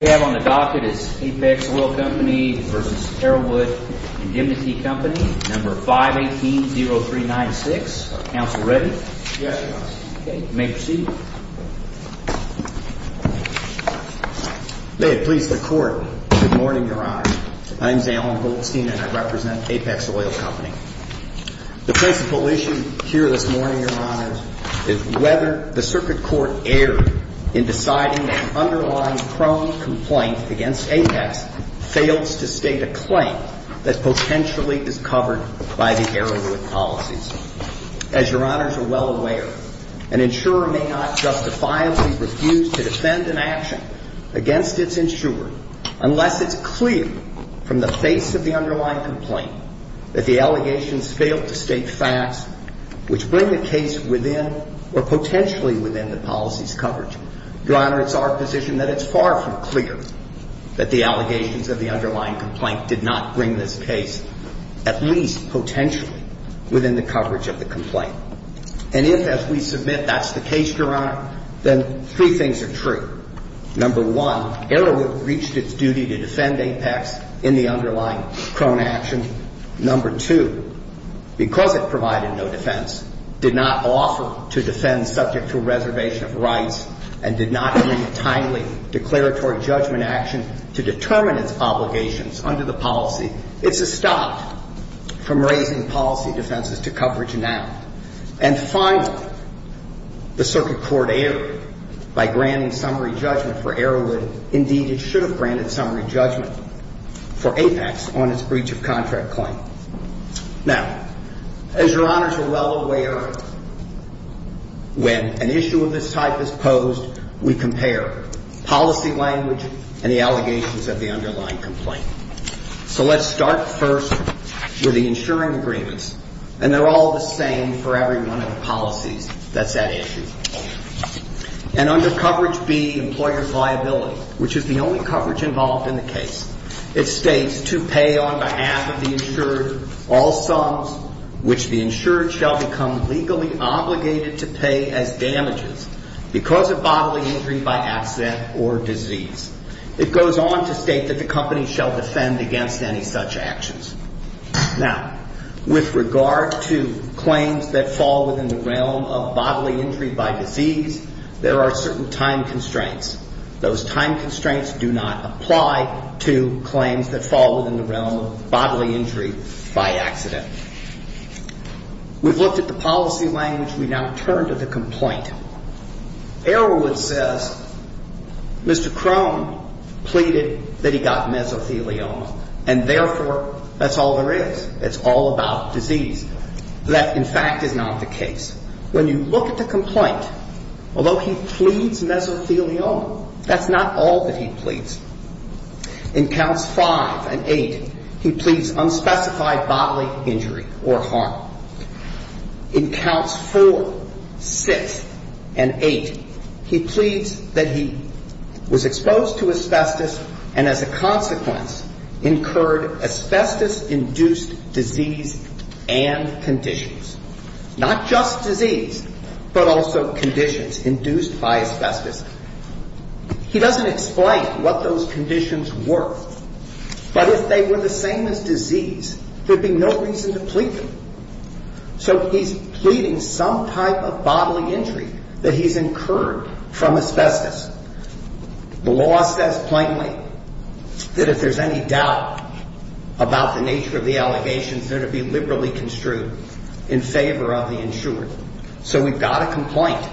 on the docket is Apex Oil Co. v. Arrowood Indemnity Co., No. 518-0396. Council ready? Yes, Your Honor. Okay, you may proceed. May it please the Court, good morning, Your Honor. My name is Allen Goldstein and I represent Apex Oil Co. The principle issue here this morning, Your Honor, is whether the Circuit Court erred in deciding that an underlying prone complaint against Apex fails to state a claim that potentially is covered by the Arrowwood policies. As Your Honors are well aware, an insurer may not justifiably refuse to defend an action against its insurer unless it's clear from the face of the underlying complaint that the allegations fail to state facts which bring the case within or potentially within the policy's coverage. Your Honor, it's our position that it's far from clear that the allegations of the underlying complaint did not bring this case at least potentially within the coverage of the complaint. And if, as we submit, that's the case, Your Honor, then three things are true. Number one, Arrowwood reached its duty to defend Apex in the underlying prone action. Number two, because it provided no defense, did not offer to defend subject to reservation of rights, and did not bring a timely declaratory judgment action to determine its obligations under the policy, it's stopped from raising policy defenses to coverage now. And finally, the Circuit Court erred by granting summary judgment for Arrowwood. Indeed, it should have granted summary judgment for Apex on its breach of contract claim. Now, as Your Honors are well aware, when an issue of this type is posed, we compare policy language and the allegations of the underlying complaint. So let's start first with the insuring agreements. And they're all the same for every one of the policies that's at issue. And under coverage B, employer viability, which is the only coverage involved in the case, it states to pay on behalf of the insured all sums which the insured shall become legally obligated to pay as damages because of bodily injury by accident or disease. It goes on to state that the company shall defend against any such actions. Now, with regard to claims that fall within the realm of bodily injury by disease, there are certain time constraints. Those time constraints do not apply to claims that fall within the realm of bodily injury by accident. We've looked at the policy language. We now turn to the complaint. Arrowwood says Mr. Crone pleaded that he got mesothelioma, and therefore that's all there is. It's all about disease. That, in fact, is not the case. When you look at the complaint, although he pleads mesothelioma, that's not all that he pleads. In counts five and eight, he pleads unspecified bodily injury or harm. In counts four, six, and eight, he pleads that he was exposed to asbestos and, as a consequence, incurred asbestos-induced disease and conditions. Not just disease, but also conditions induced by asbestos. He doesn't explain what those conditions were. But if they were the same as disease, there would be no reason to plead them. So he's pleading some type of bodily injury that he's incurred from asbestos. The law says plainly that if there's any doubt about the nature of the allegations, they're to be liberally construed in favor of the insured. So we've got a complaint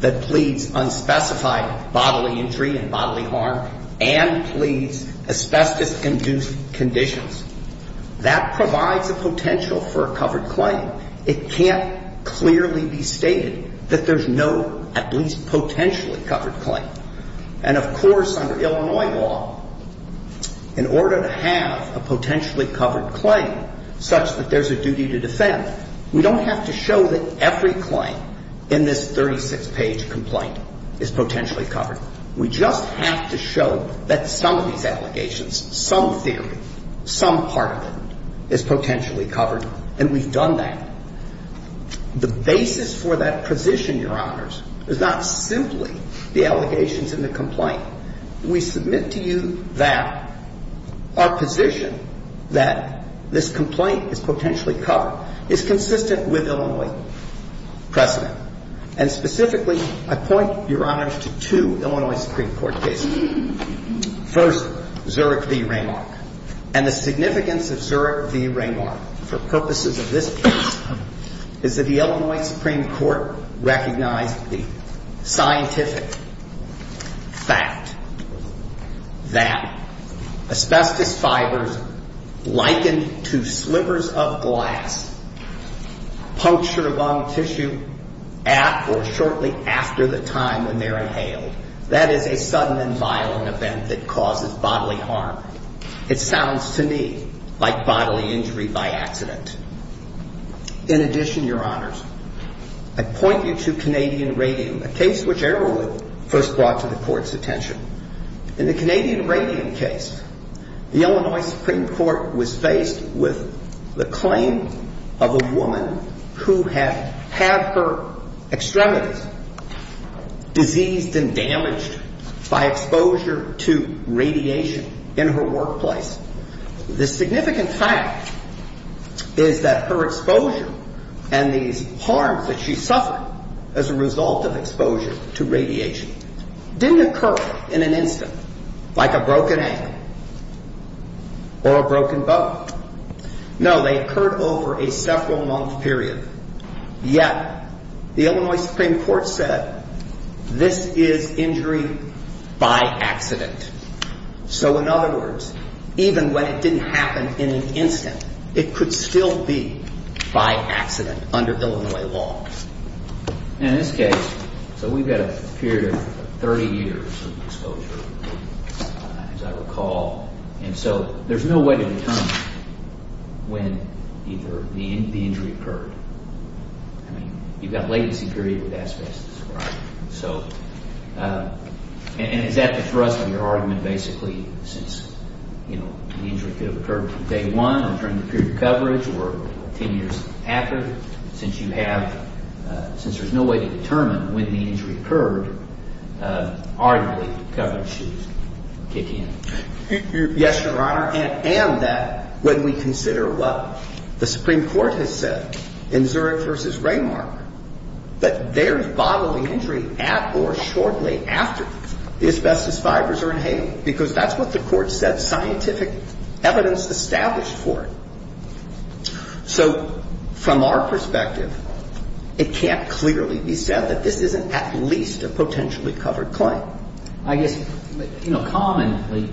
that pleads unspecified bodily injury and bodily harm and pleads asbestos-induced conditions. That provides a potential for a covered claim. It can't clearly be stated that there's no at least potentially covered claim. And, of course, under Illinois law, in order to have a potentially covered claim such that there's a duty to defend, we don't have to show that every claim in this 36-page complaint is potentially covered. We just have to show that some of these allegations, some theory, some part of it, is potentially covered, and we've done that. The basis for that position, Your Honors, is not simply the allegations in the complaint. We submit to you that our position that this complaint is potentially covered is consistent with Illinois precedent. And specifically, I point, Your Honors, to two Illinois Supreme Court cases. First, Zurich v. Raymark. And the significance of Zurich v. Raymark for purposes of this case is that the Illinois Supreme Court recognized the scientific fact that asbestos fibers likened to slivers of glass puncture lung tissue at or shortly after the time when they're inhaled. That is a sudden and violent event that causes bodily harm. It sounds to me like bodily injury by accident. In addition, Your Honors, I point you to Canadian Radium, a case which Arrowwood first brought to the Court's attention. In the Canadian Radium case, the Illinois Supreme Court was faced with the claim of a woman who had had her extremities diseased and damaged by exposure to radiation in her workplace. The significant fact is that her exposure and these harms that she suffered as a result of exposure to radiation didn't occur in an instant, like a broken ankle or a broken bone. No, they occurred over a several-month period. Yet the Illinois Supreme Court said this is injury by accident. So in other words, even when it didn't happen in an instant, it could still be by accident under Illinois law. In this case, so we've got a period of 30 years of exposure, as I recall. And so there's no way to determine when either the injury occurred. I mean, you've got a latency period with asbestos, right? And is that the thrust of your argument, basically, since the injury could have occurred from day one or during the period of coverage or 10 years after? Since you have, since there's no way to determine when the injury occurred, arguably, coverage should kick in. Yes, Your Honor, and that when we consider what the Supreme Court has said in Zurich versus Raymark, that there's bodily injury at or shortly after the asbestos fibers are inhaled, because that's what the Court said, scientific evidence established for it. So from our perspective, it can't clearly be said that this isn't at least a potentially covered claim. I guess, you know, commonly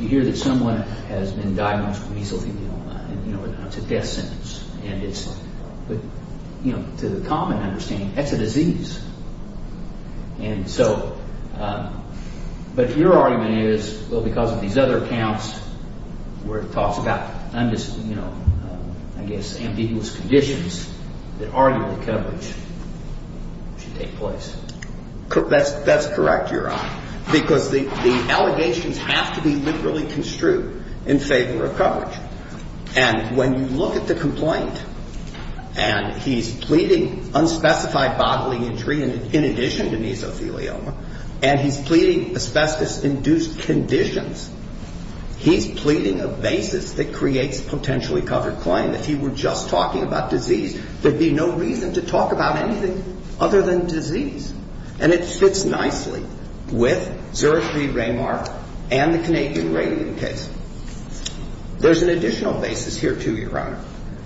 you hear that someone has been diagnosed with measles, you know, it's a death sentence. And it's, you know, to the common understanding, that's a disease. And so, but your argument is, well, because of these other accounts where it talks about, you know, I guess, ambiguous conditions that arguably coverage should take place. That's correct, Your Honor. Because the allegations have to be literally construed in favor of coverage. And when you look at the complaint, and he's pleading unspecified bodily injury in addition to mesothelioma, and he's pleading asbestos-induced conditions, he's pleading a basis that creates a potentially covered claim. If he were just talking about disease, there'd be no reason to talk about anything other than disease. And it fits nicely with Zurich v. Raymar and the Canadian rating case. There's an additional basis here, too, Your Honor.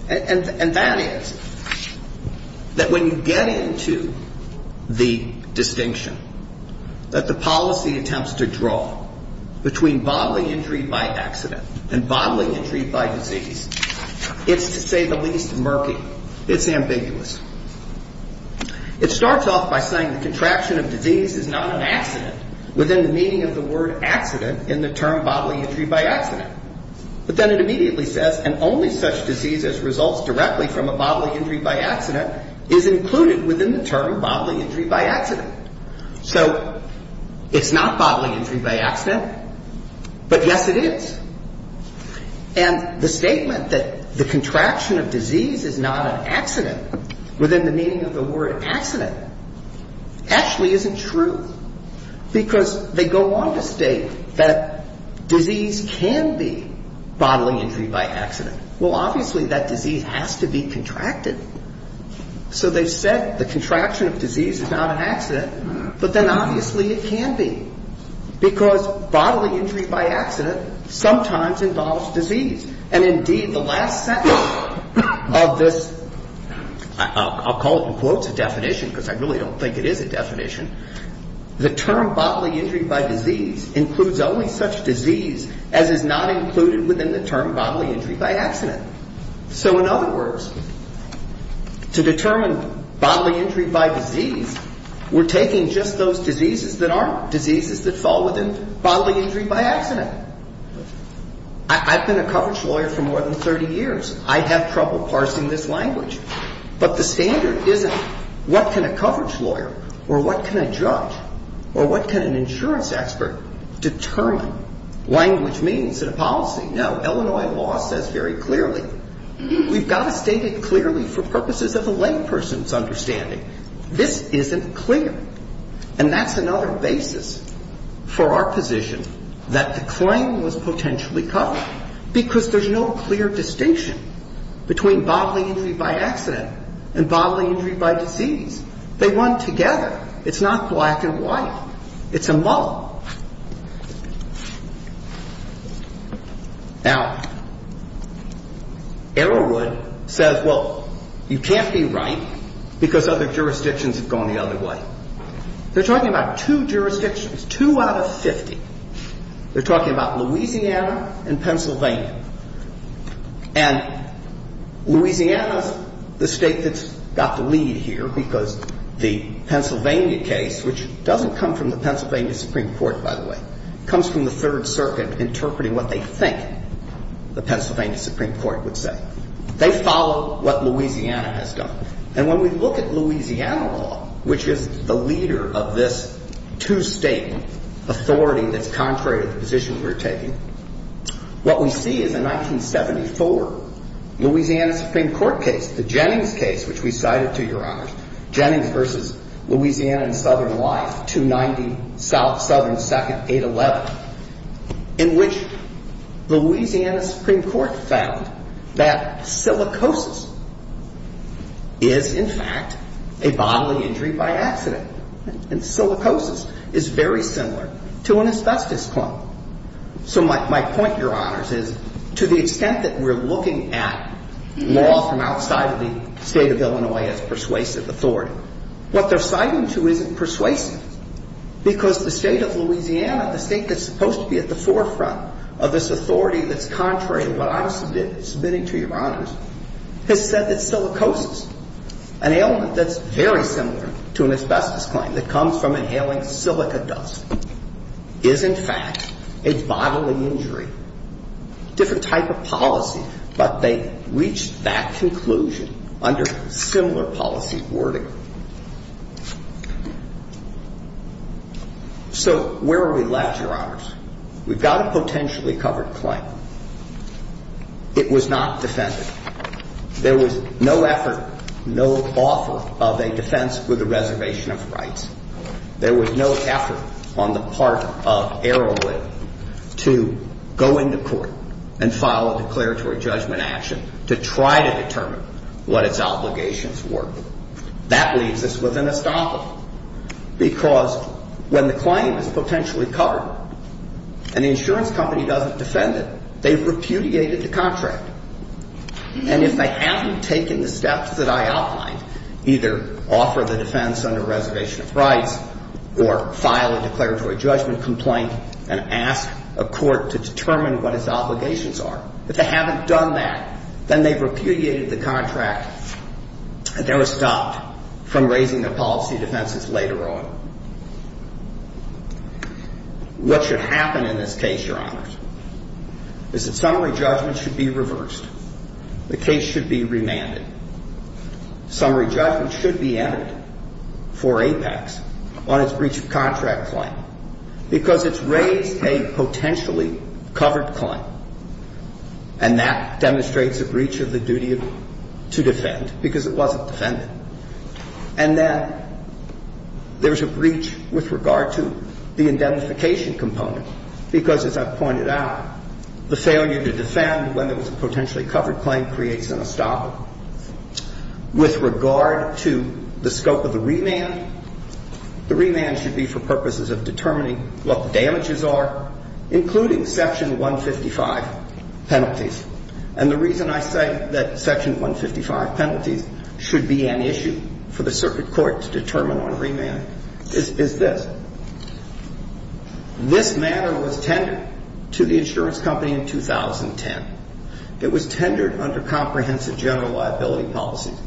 And that is that when you get into the distinction that the policy attempts to draw between bodily injury by accident and bodily injury by disease, it's, to say the least, murky. It's ambiguous. It starts off by saying the contraction of disease is not an accident within the meaning of the word accident in the term bodily injury by accident. But then it immediately says, and only such disease as results directly from a bodily injury by accident is included within the term bodily injury by accident. So it's not bodily injury by accident, but yes, it is. And the statement that the contraction of disease is not an accident within the meaning of the word accident actually isn't true, because they go on to state that disease can be bodily injury by accident. Well, obviously, that disease has to be contracted. So they've said the contraction of disease is not an accident, but then obviously it can be, because bodily injury by accident sometimes involves disease. And indeed, the last sentence of this, I'll call it in quotes a definition, because I really don't think it is a definition, the term bodily injury by disease includes only such disease as is not included within the term bodily injury by accident. So in other words, to determine bodily injury by disease, we're taking just those diseases that aren't diseases that fall within bodily injury by accident. I've been a coverage lawyer for more than 30 years. I'd have trouble parsing this language. But the standard isn't what can a coverage lawyer or what can a judge or what can an insurance expert determine language means in a policy. No, Illinois law says very clearly, we've got to state it clearly for purposes of the layperson's understanding. This isn't clear. And that's another basis for our position that the claim was potentially covered, because there's no clear distinction between bodily injury by accident and bodily injury by disease. They run together. It's not black and white. It's a mull. Now, Arrowwood says, well, you can't be right because other jurisdictions have gone the other way. They're talking about two jurisdictions, two out of 50. They're talking about Louisiana and Pennsylvania. And Louisiana is the state that's got the lead here because the Pennsylvania case, comes from the Third Circuit interpreting what they think the Pennsylvania Supreme Court would say. They follow what Louisiana has done. And when we look at Louisiana law, which is the leader of this two-state authority that's contrary to the position we're taking, what we see is a 1974 Louisiana Supreme Court case, the Jennings case, which we cited to Your Honors, Jennings v. Louisiana and Southern Life, 290 Southern 2nd 811, in which the Louisiana Supreme Court found that silicosis is, in fact, a bodily injury by accident. And silicosis is very similar to an asbestos clump. So my point, Your Honors, is to the extent that we're looking at law from outside of the state of Illinois as persuasive authority, what they're citing to isn't persuasive because the state of Louisiana, the state that's supposed to be at the forefront of this authority that's contrary to what I'm submitting, submitting to Your Honors, has said that silicosis, an ailment that's very similar to an asbestos clump that comes from inhaling silica dust, is, in fact, a bodily injury. And so the state of Illinois, the state that's supposed to be at the forefront of this authority, has said that silicosis is, in fact, a bodily injury by accident. And the state of Louisiana, the state that's supposed to be at the forefront of this authority, has said that silicosis is, in fact, a bodily injury by accident. to go into court and file a declaratory judgment action to try to determine what its obligations were. That leaves us with an estoppel because when the claim is potentially covered and the insurance company doesn't defend it, they've repudiated the contract. And if they haven't taken the steps that I outlined, either offer the defense under reservation of rights or file a declaratory judgment complaint and ask a court to determine what its obligations are, if they haven't done that, then they've repudiated the contract and they're stopped from raising their policy defenses later on. What should happen in this case, Your Honors, is that summary judgment should be reversed. The case should be remanded. Summary judgment should be entered for APEX on its breach of contract claim because it's raised a potentially covered claim, and that demonstrates a breach of the duty to defend because it wasn't defended. And then there's a breach with regard to the indemnification component because, as I've pointed out, the failure to defend when there was a potentially covered claim creates an estoppel. With regard to the scope of the remand, the remand should be for purposes of determining what the damages are, including Section 155 penalties. And the reason I say that Section 155 penalties should be an issue for the circuit court to determine on remand is this. This matter was tendered to the insurance company in 2010. It was tendered under comprehensive general liability policies.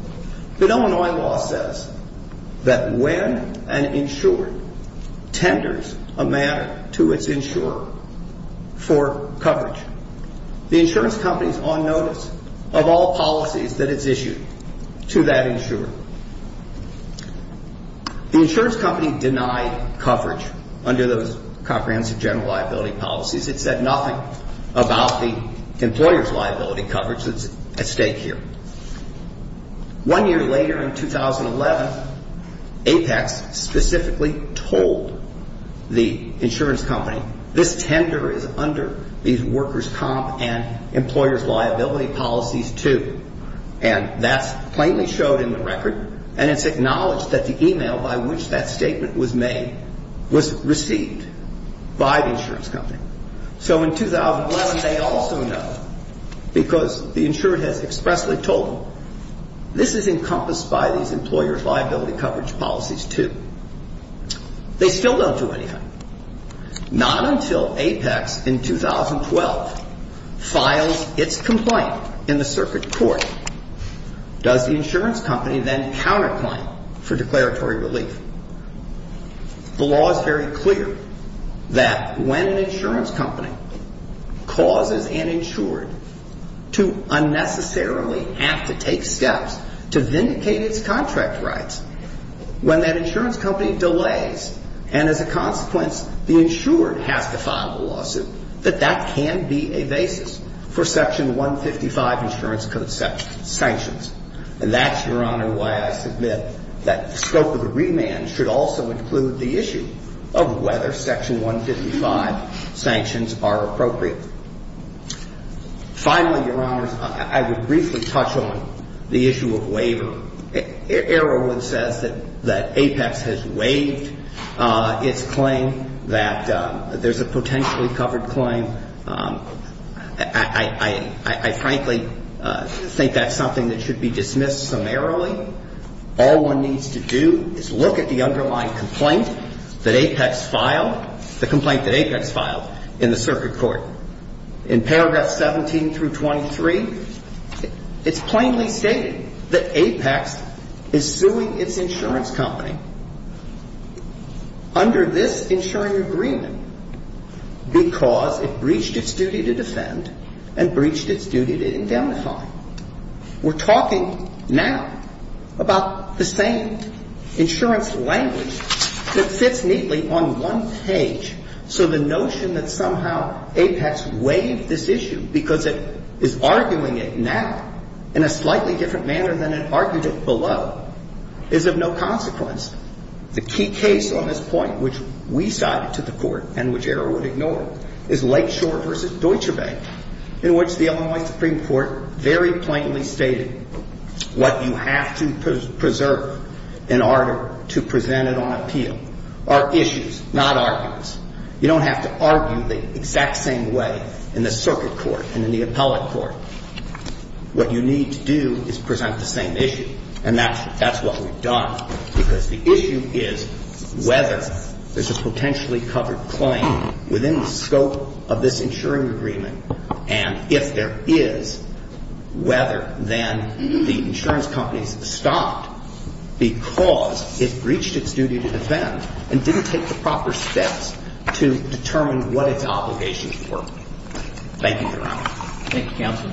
But Illinois law says that when an insurer tenders a matter to its insurer for coverage, the insurance company's on notice of all policies that it's issued to that insurer. The insurance company denied coverage under those comprehensive general liability policies. It said nothing about the employer's liability coverage that's at stake here. One year later, in 2011, APEX specifically told the insurance company, this tender is under the workers' comp and employer's liability policies too. And that's plainly showed in the record. And it's acknowledged that the e-mail by which that statement was made was received by the insurance company. So in 2011, they also know, because the insurer has expressly told them, this is encompassed by these employers' liability coverage policies too. They still don't do anything. Not until APEX in 2012 files its complaint in the circuit court does the insurance company then counterclaim for declaratory relief. The law is very clear that when an insurance company causes an insured to unnecessarily have to take steps to vindicate its contract rights, when that insurance company delays, and as a consequence, the insured has to file a lawsuit, that that can be a basis for Section 155 insurance sanctions. And that's, Your Honor, why I submit that the scope of the remand should also include the issue of whether Section 155 sanctions are appropriate. Finally, Your Honors, I would briefly touch on the issue of waiver. Arrowwood says that APEX has waived its claim, that there's a potentially covered claim. I frankly think that's something that should be dismissed summarily. All one needs to do is look at the underlying complaint that APEX filed, the complaint that APEX filed in the circuit court. In paragraph 17 through 23, it's plainly stated that APEX is suing its insurance company under this insuring agreement because it breached its duty to defend and breached its duty to indemnify. We're talking now about the same insurance language that fits neatly on one page. So the notion that somehow APEX waived this issue because it is arguing it now in a slightly different manner than it argued it below is of no consequence. The key case on this point, which we cited to the court and which Arrowwood ignored, is Lakeshore v. Deutsche Bank, in which the Illinois Supreme Court very plainly stated what you have to preserve in order to present it on appeal are issues, not arguments. You don't have to argue the exact same way in the circuit court and in the appellate court. What you need to do is present the same issue, and that's what we've done, because the issue is whether there's a potentially covered claim within the scope of this insuring agreement, and if there is, whether then the insurance company's stopped because it breached its duty to defend and didn't take the proper steps to determine what its obligations were. Thank you, Your Honor. Thank you, Counsel.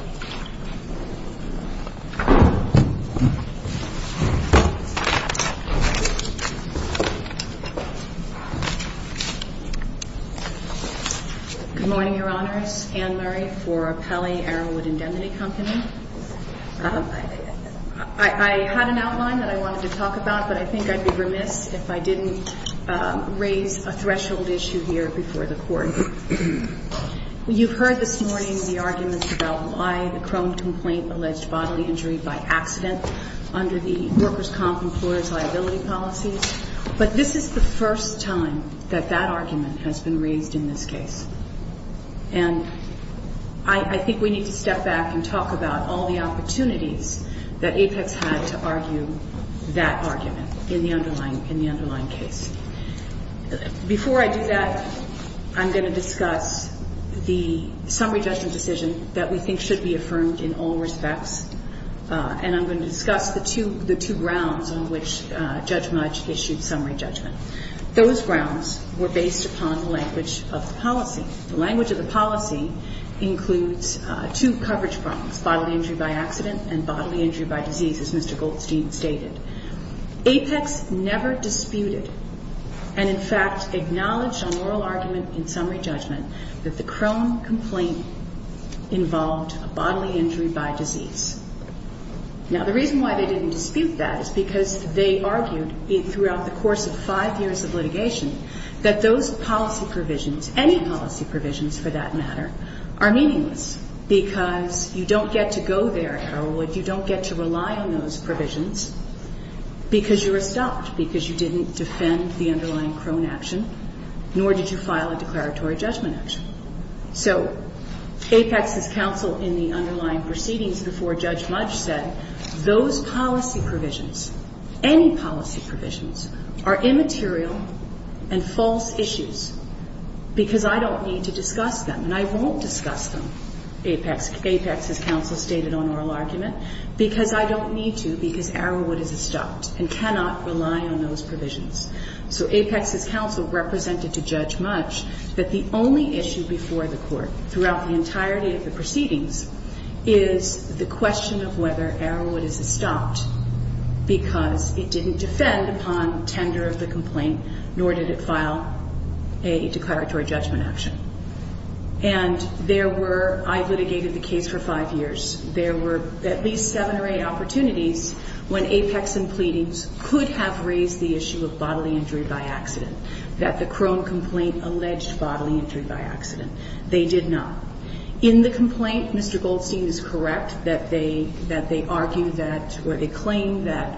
Good morning, Your Honors. My name is Anne Murray for Pelley Arrowwood Indemnity Company. I had an outline that I wanted to talk about, but I think I'd be remiss if I didn't raise a threshold issue here before the Court. You've heard this morning the arguments about why the Crone complaint alleged bodily injury by accident under the workers' comp employers' liability policies, but this is the first time that that argument has been raised in this case. I think we need to step back and talk about all the opportunities that Apex had to argue that argument in the underlying case. Before I do that, I'm going to discuss the summary judgment decision that we think should be affirmed in all respects, and I'm going to discuss the two grounds on which Judge Mudge issued summary judgment. Those grounds were based upon the language of the policy. The language of the policy includes two coverage problems, bodily injury by accident and bodily injury by disease, as Mr. Goldstein stated. Apex never disputed and, in fact, acknowledged on oral argument in summary judgment that the Crone complaint involved a bodily injury by disease. Now, the reason why they didn't dispute that is because they argued throughout the course of five years of litigation that those policy provisions, any policy provisions, for that matter, are meaningless, because you don't get to go there at Arrowwood, you don't get to rely on those provisions because you were stopped, because you didn't defend the underlying Crone action, nor did you file a declaratory judgment action. So Apex's counsel in the underlying proceedings before Judge Mudge said, those policy provisions, any policy provisions, are immaterial and false issues because I don't need to discuss them, and I won't discuss them, Apex's counsel stated on oral argument, because I don't need to because Arrowwood is stopped and cannot rely on those provisions. So Apex's counsel represented to Judge Mudge that the only issue before the court throughout the entirety of the proceedings is the question of whether Arrowwood is stopped, because it didn't defend upon tender of the complaint, nor did it file a declaratory judgment action. And there were, I litigated the case for five years, there were at least seven or eight opportunities when Apex and pleadings could have raised the issue of bodily injury by disease. That the Crone complaint alleged bodily injury by accident. They did not. In the complaint, Mr. Goldstein is correct that they argue that, or they claim that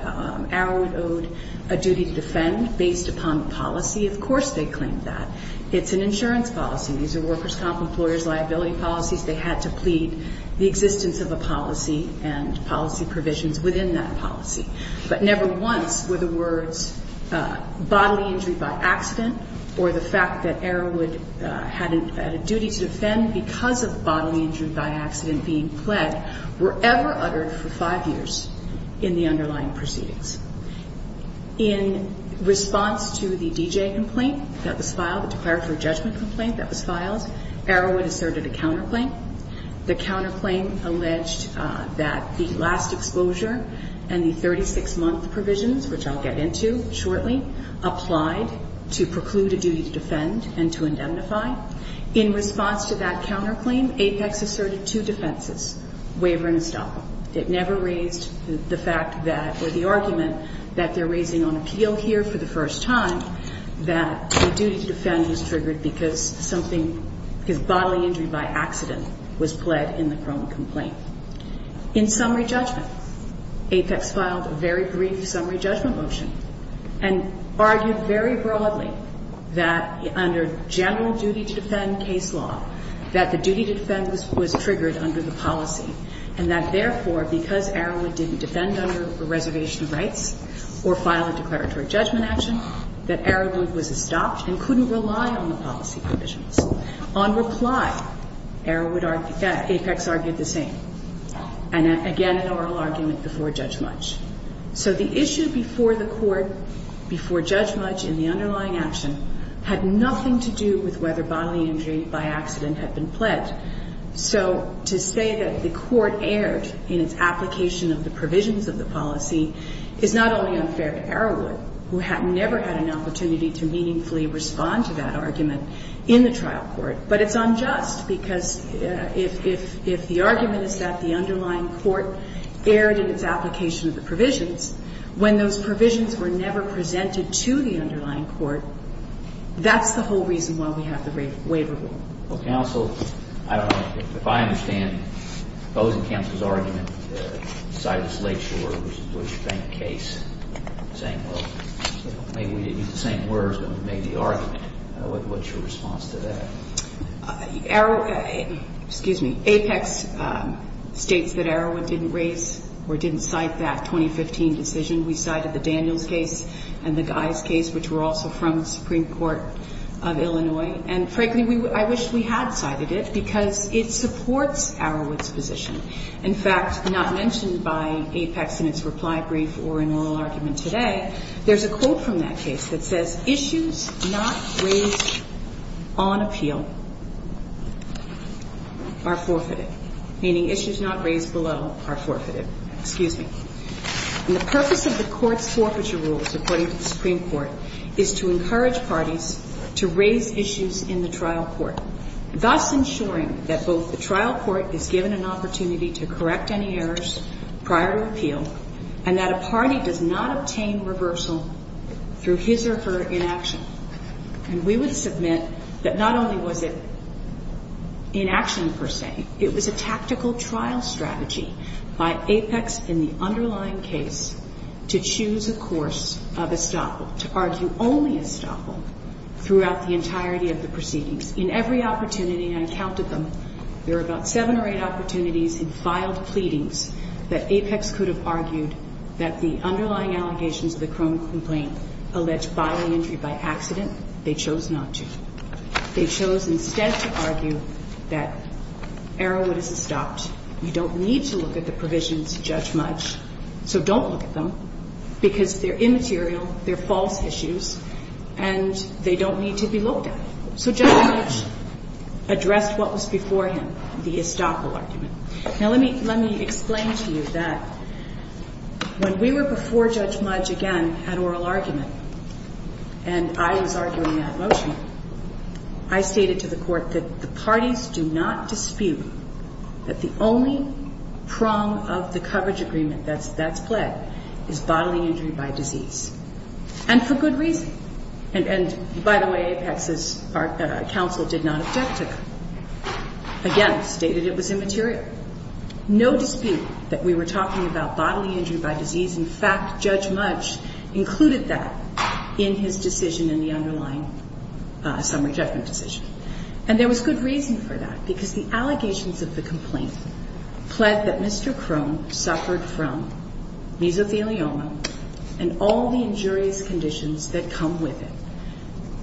Arrowwood owed a duty to defend based upon the policy. Of course, they claimed that. It's an insurance policy, these are workers' comp, employers' liability policies, they had to plead the existence of a policy and policy provisions within that policy. But never once were the words bodily injury by accident or the fact that Arrowwood had a duty to defend because of bodily injury by accident being pled were ever uttered for five years in the underlying proceedings. In response to the D.J. complaint that was filed, the declaratory judgment complaint that was filed, Arrowwood asserted a counterclaim. The counterclaim alleged that the last exposure and the 36-month provisions, which I'll get into shortly, applied to preclude a duty to defend and to indemnify. In response to that counterclaim, Apex asserted two defenses, waiver and estoppel. It never raised the fact that, or the argument that they're raising on appeal here for the first time, that a duty to defend was triggered because something, because bodily injury by accident. was pled in the Chrome complaint. In summary judgment, Apex filed a very brief summary judgment motion and argued very broadly that under general duty to defend case law, that the duty to defend was triggered under the policy. And that, therefore, because Arrowwood didn't defend under the reservation rights or file a declaratory judgment action, that Arrowwood was estopped and couldn't rely on the policy provisions. On reply, Apex argued the same. And again, an oral argument before Judge Mudge. So the issue before the court, before Judge Mudge in the underlying action, had nothing to do with whether bodily injury by accident had been pled. So to say that the court erred in its application of the provisions of the policy is not only unfair to Arrowwood, who had never had an opportunity to meaningfully respond to that argument in the trial. But it's unjust, because if the argument is that the underlying court erred in its application of the provisions, when those provisions were never presented to the underlying court, that's the whole reason why we have the waiver rule. Well, counsel, I don't know, if I understand opposing counsel's argument, the Silas Lakeshore versus Deutsche Bank case, saying, well, maybe we didn't use the same words, but we made the argument, what's your response to that? Well, excuse me, Apex states that Arrowwood didn't raise or didn't cite that 2015 decision. We cited the Daniels case and the Guy's case, which were also from the Supreme Court of Illinois. And frankly, I wish we had cited it, because it supports Arrowwood's position. In fact, not mentioned by Apex in its reply brief or in oral argument today, there's a quote from that case that says, issues not raised on appeal, are not subject to appeal. Issues not raised below are forfeited, meaning issues not raised below are forfeited, excuse me. And the purpose of the court's forfeiture rules, according to the Supreme Court, is to encourage parties to raise issues in the trial court, thus ensuring that both the trial court is given an opportunity to correct any errors prior to appeal, and that a party does not obtain reversal through his or her inaction. And we would submit that not only was it inaction per se, it was a tactical trial strategy by Apex in the underlying case to choose a course of estoppel, to argue only estoppel throughout the entirety of the proceedings. In every opportunity I counted them, there were about seven or eight opportunities in filed pleadings that Apex could have argued that the underlying allegations of the chronic complaint alleged bodily injury by accident. They chose not to. They chose instead to argue that Arrowwood is estopped. You don't need to look at the provisions of Judge Mudge, so don't look at them, because they're immaterial, they're false issues, and they don't need to be looked at. So Judge Mudge addressed what was before him, the estoppel argument. Now, let me explain to you that when we were before Judge Mudge again at oral argument, and I was in the trial court, and we had oral argument. And when I was arguing that motion, I stated to the court that the parties do not dispute that the only prong of the coverage agreement that's pled is bodily injury by disease, and for good reason. And by the way, Apex's counsel did not object to it. Again, stated it was immaterial. No dispute that we were talking about bodily injury by disease. In fact, Judge Mudge included that in his decision in the underlying summary judgment decision. And there was good reason for that, because the allegations of the complaint pled that Mr. Crone suffered from mesothelioma and all the injurious conditions that come with it.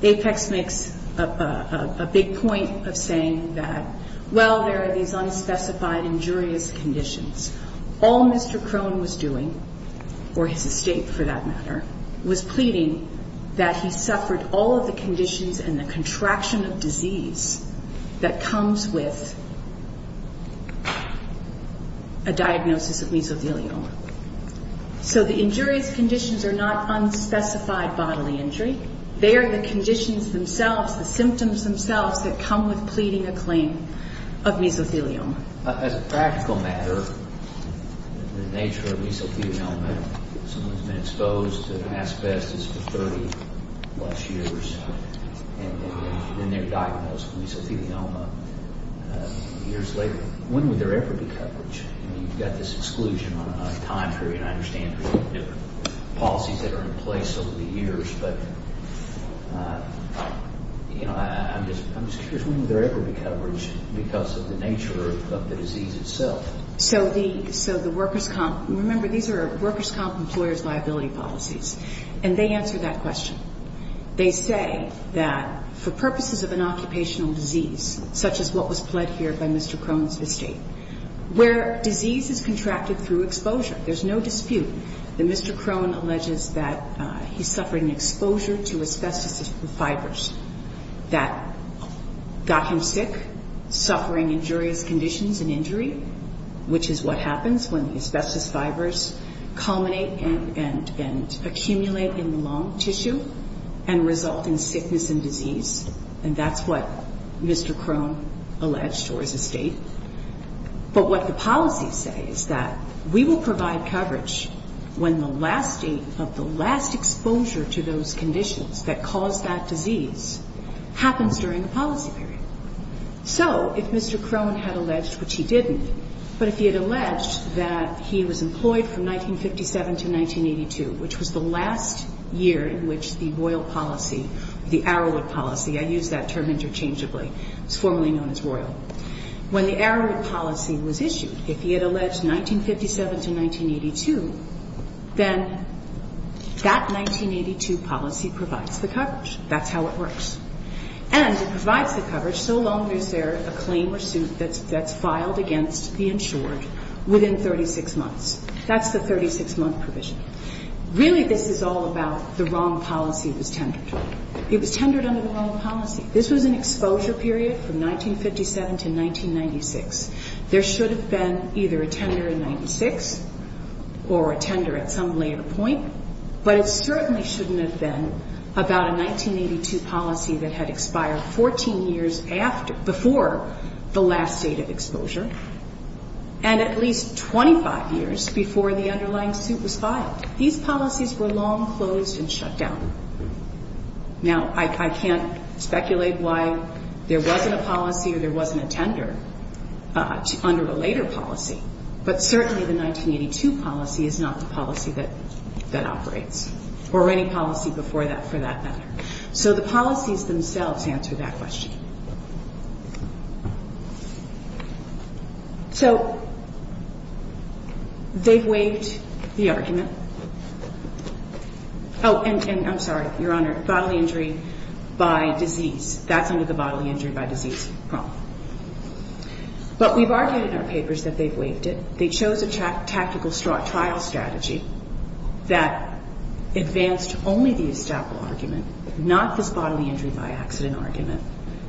Apex makes a big point of saying that, well, there are these unspecified injurious conditions. All Mr. Crone was doing, or his estate for that matter, was pleading that he suffered all of the conditions and the contraction of disease that comes with a diagnosis of mesothelioma. So the injurious conditions are not unspecified bodily injury. They are the conditions themselves, the symptoms themselves that come with pleading a claim of mesothelioma. As a practical matter, the nature of mesothelioma, someone's been exposed to asbestos for 30-plus years, and then they're diagnosed with mesothelioma years later. When would there ever be coverage? I mean, you've got this exclusion on a time period, and I understand there's different policies that are in place over the years. But, you know, I'm just curious, when would there ever be coverage because of the nature of mesothelioma? I mean, you've got this exclusion on a time period, and I understand there's different policies that are in place over the years. But, you know, I'm just curious, when would there ever be coverage because of the nature of mesothelioma? So the workers' comp – remember, these are workers' comp employer's liability policies. And they answer that question. They say that for purposes of an occupational disease, such as what was pled here by Mr. Crone's estate, where disease is contracted through exposure, there's no dispute that Mr. Crone alleges that he's suffering exposure to asbestos fibers that got him sick, suffering injurious conditions. And that's what Mr. Crone alleged, or his estate. But what the policies say is that we will provide coverage when the last date of the last exposure to those conditions that caused that disease happens during the policy period. So if Mr. Crone had alleged, which he didn't, but if he had alleged that he was employed from 1957 to 1982, which was the last year in which the royal policy, the Arrowwood policy, I use that term interchangeably, it's formally known as royal, when the Arrowwood policy was issued, if he had alleged 1957 to 1982, then that 1982 policy provides the coverage. That's how it works. And it provides the coverage so long as there's a claim or suit that's filed against the insured within 36 months. That's the 36-month provision. Really, this is all about the wrong policy was tendered. It was tendered under the wrong policy. This was an exposure period from 1957 to 1996. There should have been either a tender in 1996 or a tender at some later point, but it certainly shouldn't have been about a 1996 policy. It should have been about a 1982 policy that had expired 14 years after, before the last date of exposure, and at least 25 years before the underlying suit was filed. These policies were long closed and shut down. Now, I can't speculate why there wasn't a policy or there wasn't a tender under a later policy, but certainly the 1982 policy is not the policy that operates, or any policy before that for that matter. So the policies themselves answer that question. So they've waived the argument. Oh, and I'm sorry, Your Honor, bodily injury by disease. That's under the bodily injury by disease problem. But we've argued in our papers that they've waived it. They chose a tactical trial strategy that advanced only the establishment argument, not the actual argument.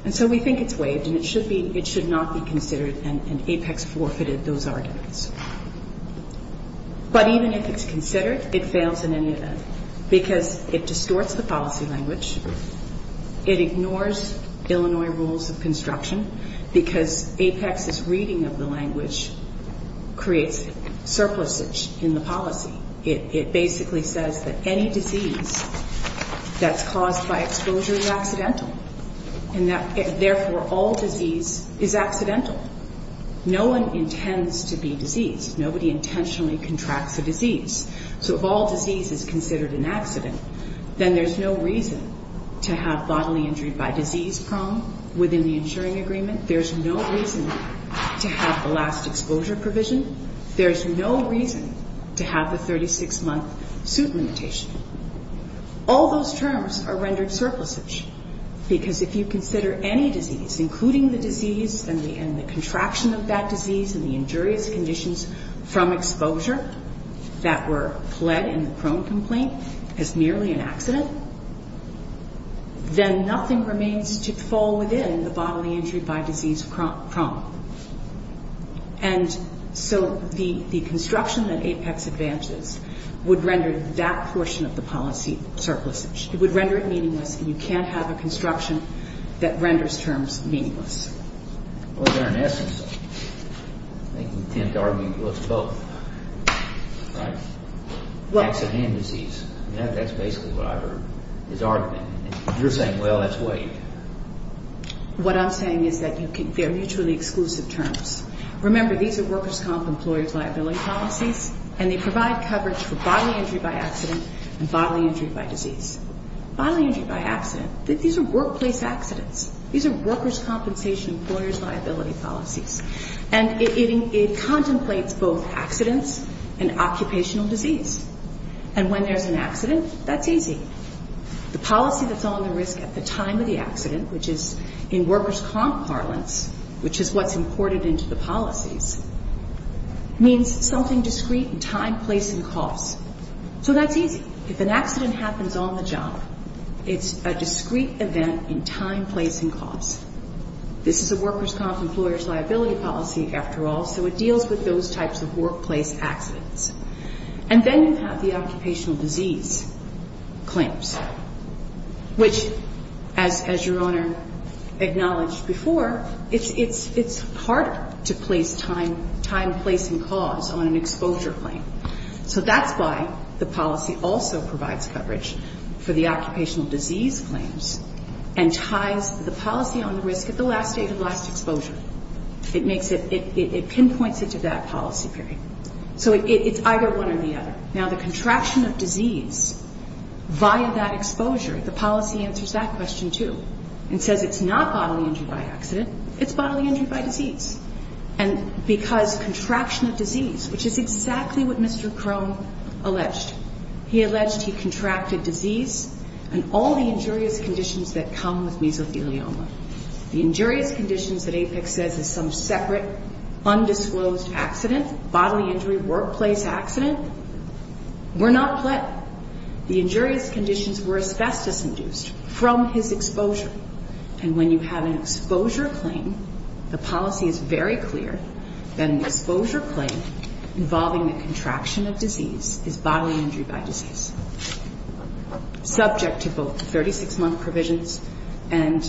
And so we think it's waived and it should not be considered, and APEX forfeited those arguments. But even if it's considered, it fails in any event, because it distorts the policy language, it ignores Illinois rules of construction, because APEX's reading of the language creates surpluses in the policy. It basically says that any disease that's caused by exposure to a disease is not a disease. That exposure is accidental, and therefore all disease is accidental. No one intends to be diseased. Nobody intentionally contracts a disease. So if all disease is considered an accident, then there's no reason to have bodily injury by disease problem within the insuring agreement. There's no reason to have the last exposure provision. There's no reason to have the 36-month suit limitation. All those terms are rendered surplusage, because if you consider any disease, including the disease and the contraction of that disease and the injurious conditions from exposure that were pled in the prone complaint as merely an accident, then nothing remains to fall within the bodily injury by disease problem. And so the construction that APEX advances would render that portion of the policy language invalid. It would render it meaningless, and you can't have a construction that renders terms meaningless. Well, in essence, they tend to argue it's both, right? Accident and disease. That's basically what I heard, is argument. And you're saying, well, that's weight. What I'm saying is that they're mutually exclusive terms. Remember, these are workers' comp. employee liability policies, and they provide coverage for bodily injury by accident, and they're mutually exclusive. And bodily injury by disease. Bodily injury by accident. These are workplace accidents. These are workers' compensation employers' liability policies. And it contemplates both accidents and occupational disease. And when there's an accident, that's easy. The policy that's on the risk at the time of the accident, which is in workers' comp. parlance, which is what's imported into the policies, means something discreet in time, place, and cost. So that's easy. If an accident happens on the job, it's a discreet event in time, place, and cost. This is a workers' comp. employer's liability policy, after all, so it deals with those types of workplace accidents. And then you have the occupational disease claims, which, as Your Honor acknowledged before, it's hard to place time, place, and cost on an exposure claim. So that's why the policy also provides coverage for the occupational disease claims and ties the policy on the risk at the last date of last exposure. It makes it, it pinpoints it to that policy period. So it's either one or the other. Now, the contraction of disease, via that exposure, the policy answers that question, too. It says it's not bodily injury by accident, it's bodily injury by disease. And because contraction of disease, which is exactly what Mr. Crone, Mr. Crone, alleged, he alleged he contracted disease and all the injurious conditions that come with mesothelioma. The injurious conditions that APEC says is some separate, undisclosed accident, bodily injury workplace accident, were not. The injurious conditions were asbestos induced from his exposure. And when you have an exposure claim, the policy is very clear that an exposure claim involving the contraction of disease is bodily injury by disease, subject to both 36-month provisions and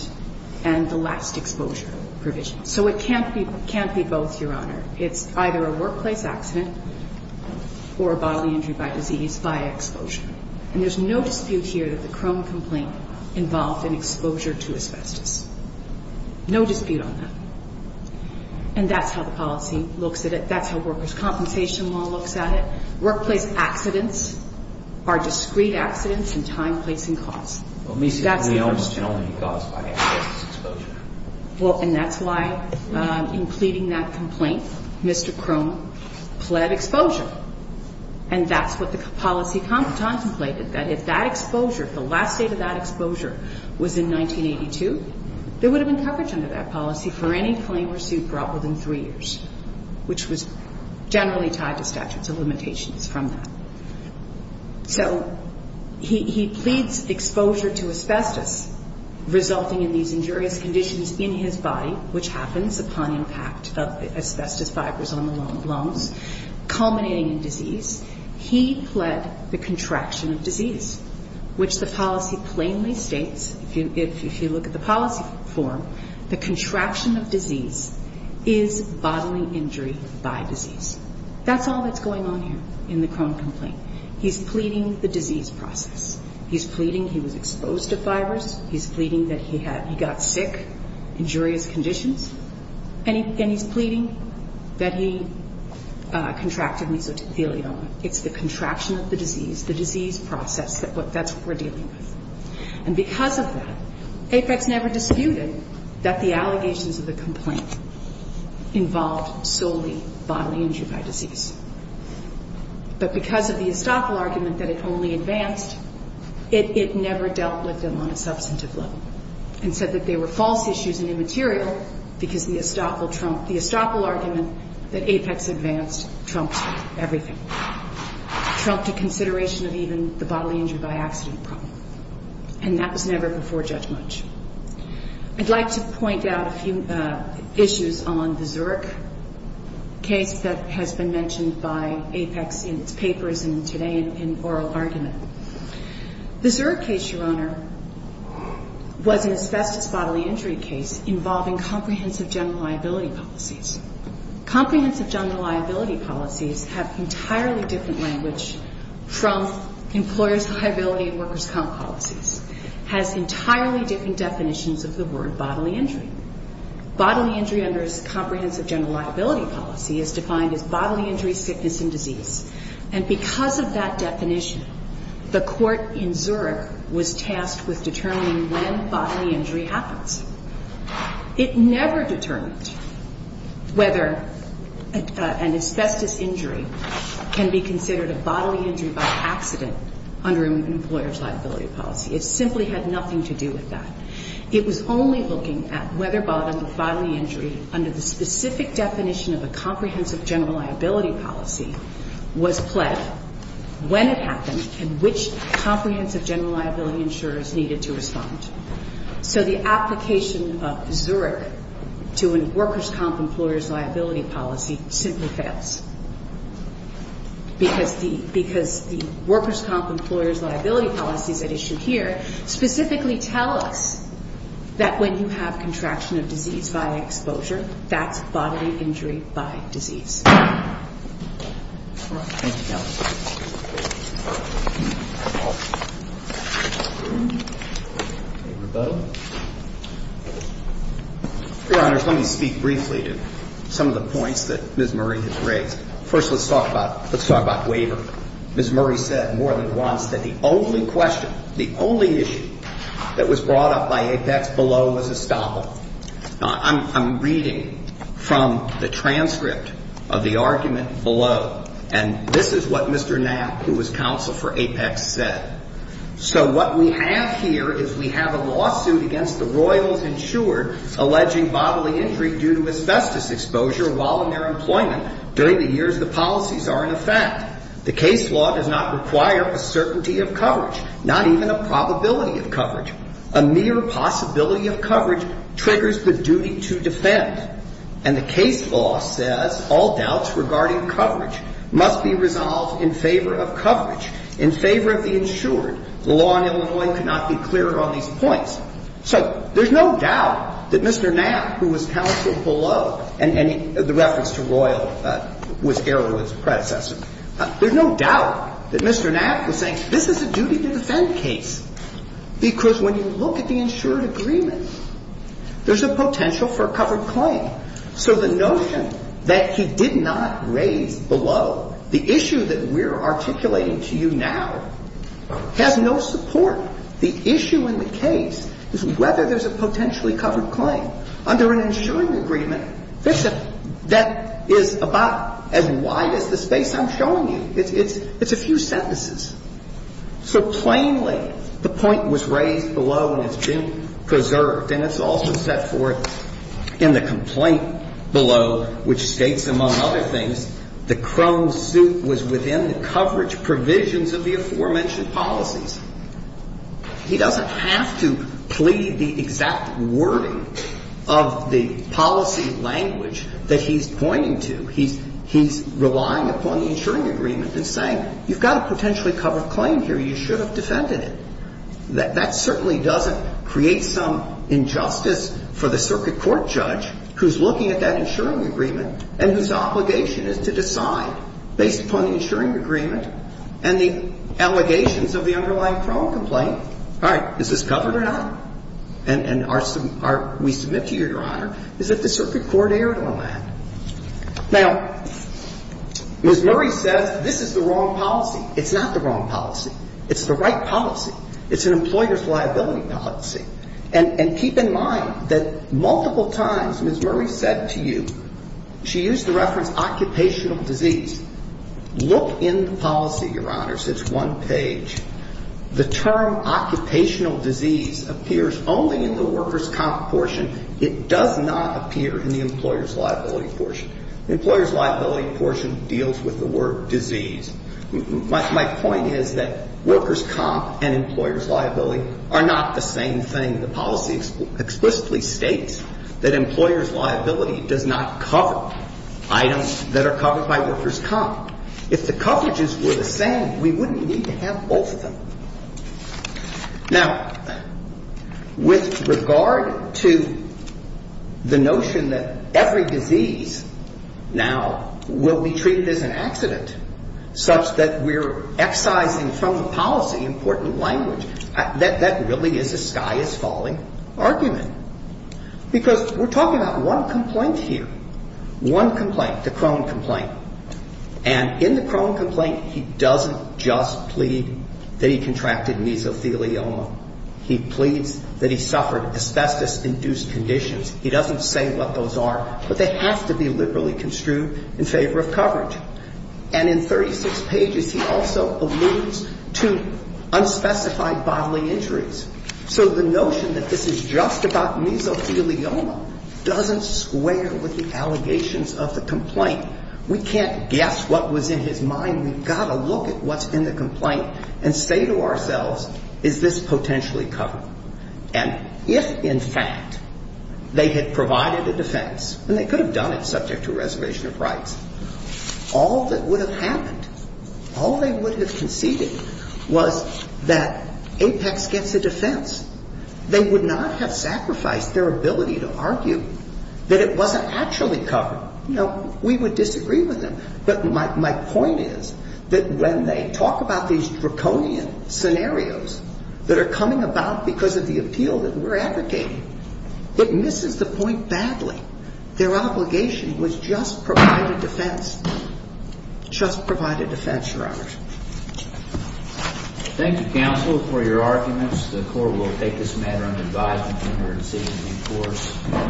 the last exposure provisions. So it can't be both, Your Honor. It's either a workplace accident or a bodily injury by disease by exposure. And there's no dispute here that the Crone complaint involved an exposure to asbestos. No dispute on that. And that's how the policy looks at it. That's how workers' compensation law looks at it. Workplace accident is a discrete accident, and time, place, and cause. That's the first term. Well, mesothelioma can only be caused by asbestos exposure. Well, and that's why, in pleading that complaint, Mr. Crone pled exposure. And that's what the policy contemplated, that if that exposure, the last date of that exposure was in 1982, there would have been coverage under that policy for any claim or suit brought within three years, which was generally tied to statutes of limitations from that. So he pleads exposure to asbestos, resulting in these injurious conditions in his body, which happens upon impact of asbestos fibers on the lungs, culminating in disease. He pled the contraction of disease, which the policy plainly states, if you look at the policy form, the disease. That's all that's going on here in the Crone complaint. He's pleading the disease process. He's pleading he was exposed to fibers. He's pleading that he had he got sick, injurious conditions. And he's pleading that he contracted mesothelioma. It's the contraction of the disease, the disease process. That's what we're dealing with. And because of that, APEC's never disputed that the allegations of the complaint involved solely in mesothelioma. It was a bodily injury by disease. But because of the estoppel argument that it only advanced, it never dealt with them on a substantive level and said that they were false issues and immaterial because the estoppel argument that APEC's advanced trumped everything, trumped a consideration of even the bodily injury by accident problem. And that was never before judgment. I'd like to point out a few issues on the Zurich case that has been mentioned by APEC in its papers and today in oral argument. The Zurich case, Your Honor, was an asbestos bodily injury case involving comprehensive general liability policies. Comprehensive general liability policies have entirely different language from employers' liability and workers' comp policies, has entirely different definitions of the word bodily injury. Bodily injury under comprehensive general liability policy is defined as bodily injury, sickness and disease. And because of that definition, the court in Zurich was tasked with determining when bodily injury happens. It never determined whether an asbestos injury can be considered a bodily injury by employers' liability policy. It simply had nothing to do with that. It was only looking at whether bodily injury under the specific definition of a comprehensive general liability policy was pled when it happened and which comprehensive general liability insurers needed to respond. So the application of Zurich to a workers' comp employers' liability policy simply fails, because the workers' comp employers' liability policies at issue here specifically tell us that when you have contraction of disease by exposure, that's bodily injury by disease. Your Honors, let me speak briefly to some of the points that Ms. Murray has raised. First, let's talk about waivers. Ms. Murray said more than once that the only question, the only issue that was brought up by Apex below was estoppel. I'm reading from the transcript of the argument below, and this is what Mr. Knapp, who was counsel for Apex, said. So what we have here is we have a lawsuit against the Royals insured alleging bodily injury due to asbestos exposure while in their case, the case law does not require a certainty of coverage, not even a probability of coverage. A mere possibility of coverage triggers the duty to defend. And the case law says all doubts regarding coverage must be resolved in favor of coverage, in favor of the insured. The law in Illinois could not be clearer on these points. So there's no doubt that Mr. Knapp, who was counsel below, and the reference to Royal was Erwin's predecessor. There's no doubt that Mr. Knapp, who was saying this is a duty to defend case, because when you look at the insured agreement, there's a potential for a covered claim. So the notion that he did not raise below, the issue that we're articulating to you now, has no support. The issue in the case is whether there's a potentially covered claim under an insuring agreement that is about as wide as the space I'm showing you. It's a few sentences. So plainly, the point was raised below and it's been preserved. And it's also set forth in the complaint below, which states, among other things, the chrome suit was within the coverage provisions of the aforementioned policies. He doesn't have to plead the exact wording of the policy language that he's pointing to. He's relying upon the insuring agreement and saying, you've got a potentially covered claim here. You should have defended it. That certainly doesn't create some injustice for the circuit court judge who's looking at that insuring agreement and whose obligation is to decide, based upon the insuring agreement and the allegations of the underlying chrome complaint, all right, is this covered or not? And are we submit to you, Your Honor, is that the circuit court erred on that? Now, Ms. Murray says this is the wrong policy. It's not the wrong policy. It's the right policy. It's an employer's liability policy. And keep in mind that multiple times Ms. Murray said to you, she used the reference occupational disease. Look in the policy, Your Honors. It's one page. The term occupational disease appears only in the workers' comp portion. It does not appear in the employers' liability portion. The employers' liability portion deals with the word disease. My point is that workers' comp and employers' liability are not the same thing. The policy explicitly states that employers' liability does not cover items that are covered by workers' comp. If the coverages were the same, we wouldn't need to have both of them. Now, with regard to the employers' liability portion, it does not appear in the employers' liability portion. The notion that every disease now will be treated as an accident, such that we're excising from the policy important language, that really is a sky is falling argument. Because we're talking about one complaint here. One complaint, the Crone complaint. And in the Crone complaint, he doesn't just plead that he contracted mesothelioma. He pleads that he suffered asbestos-induced conditions. He doesn't say what those are. But they have to be liberally construed in favor of coverage. And in 36 pages, he also alludes to unspecified bodily injuries. So the notion that this is just about mesothelioma doesn't square with the allegations of the complaint. We can't guess what was in his mind. We've got to look at what's in the complaint and say to ourselves, is this potentially covered? And if, in fact, they had provided a defense, and they could have done it subject to a reservation of rights, all that would have happened, all they would have conceded was that Apex gets a defense. They would not have sacrificed their ability to argue that it wasn't actually covered. You know, we would disagree with them. But my point is that when they talk about these draconian scenarios that are coming about because of the appeal that we're advocating, it misses the point badly. Their obligation was just provide a defense. Just provide a defense, Your Honor. Thank you, Counsel, for your arguments. The Court will take this matter under advisement under decision of the courts.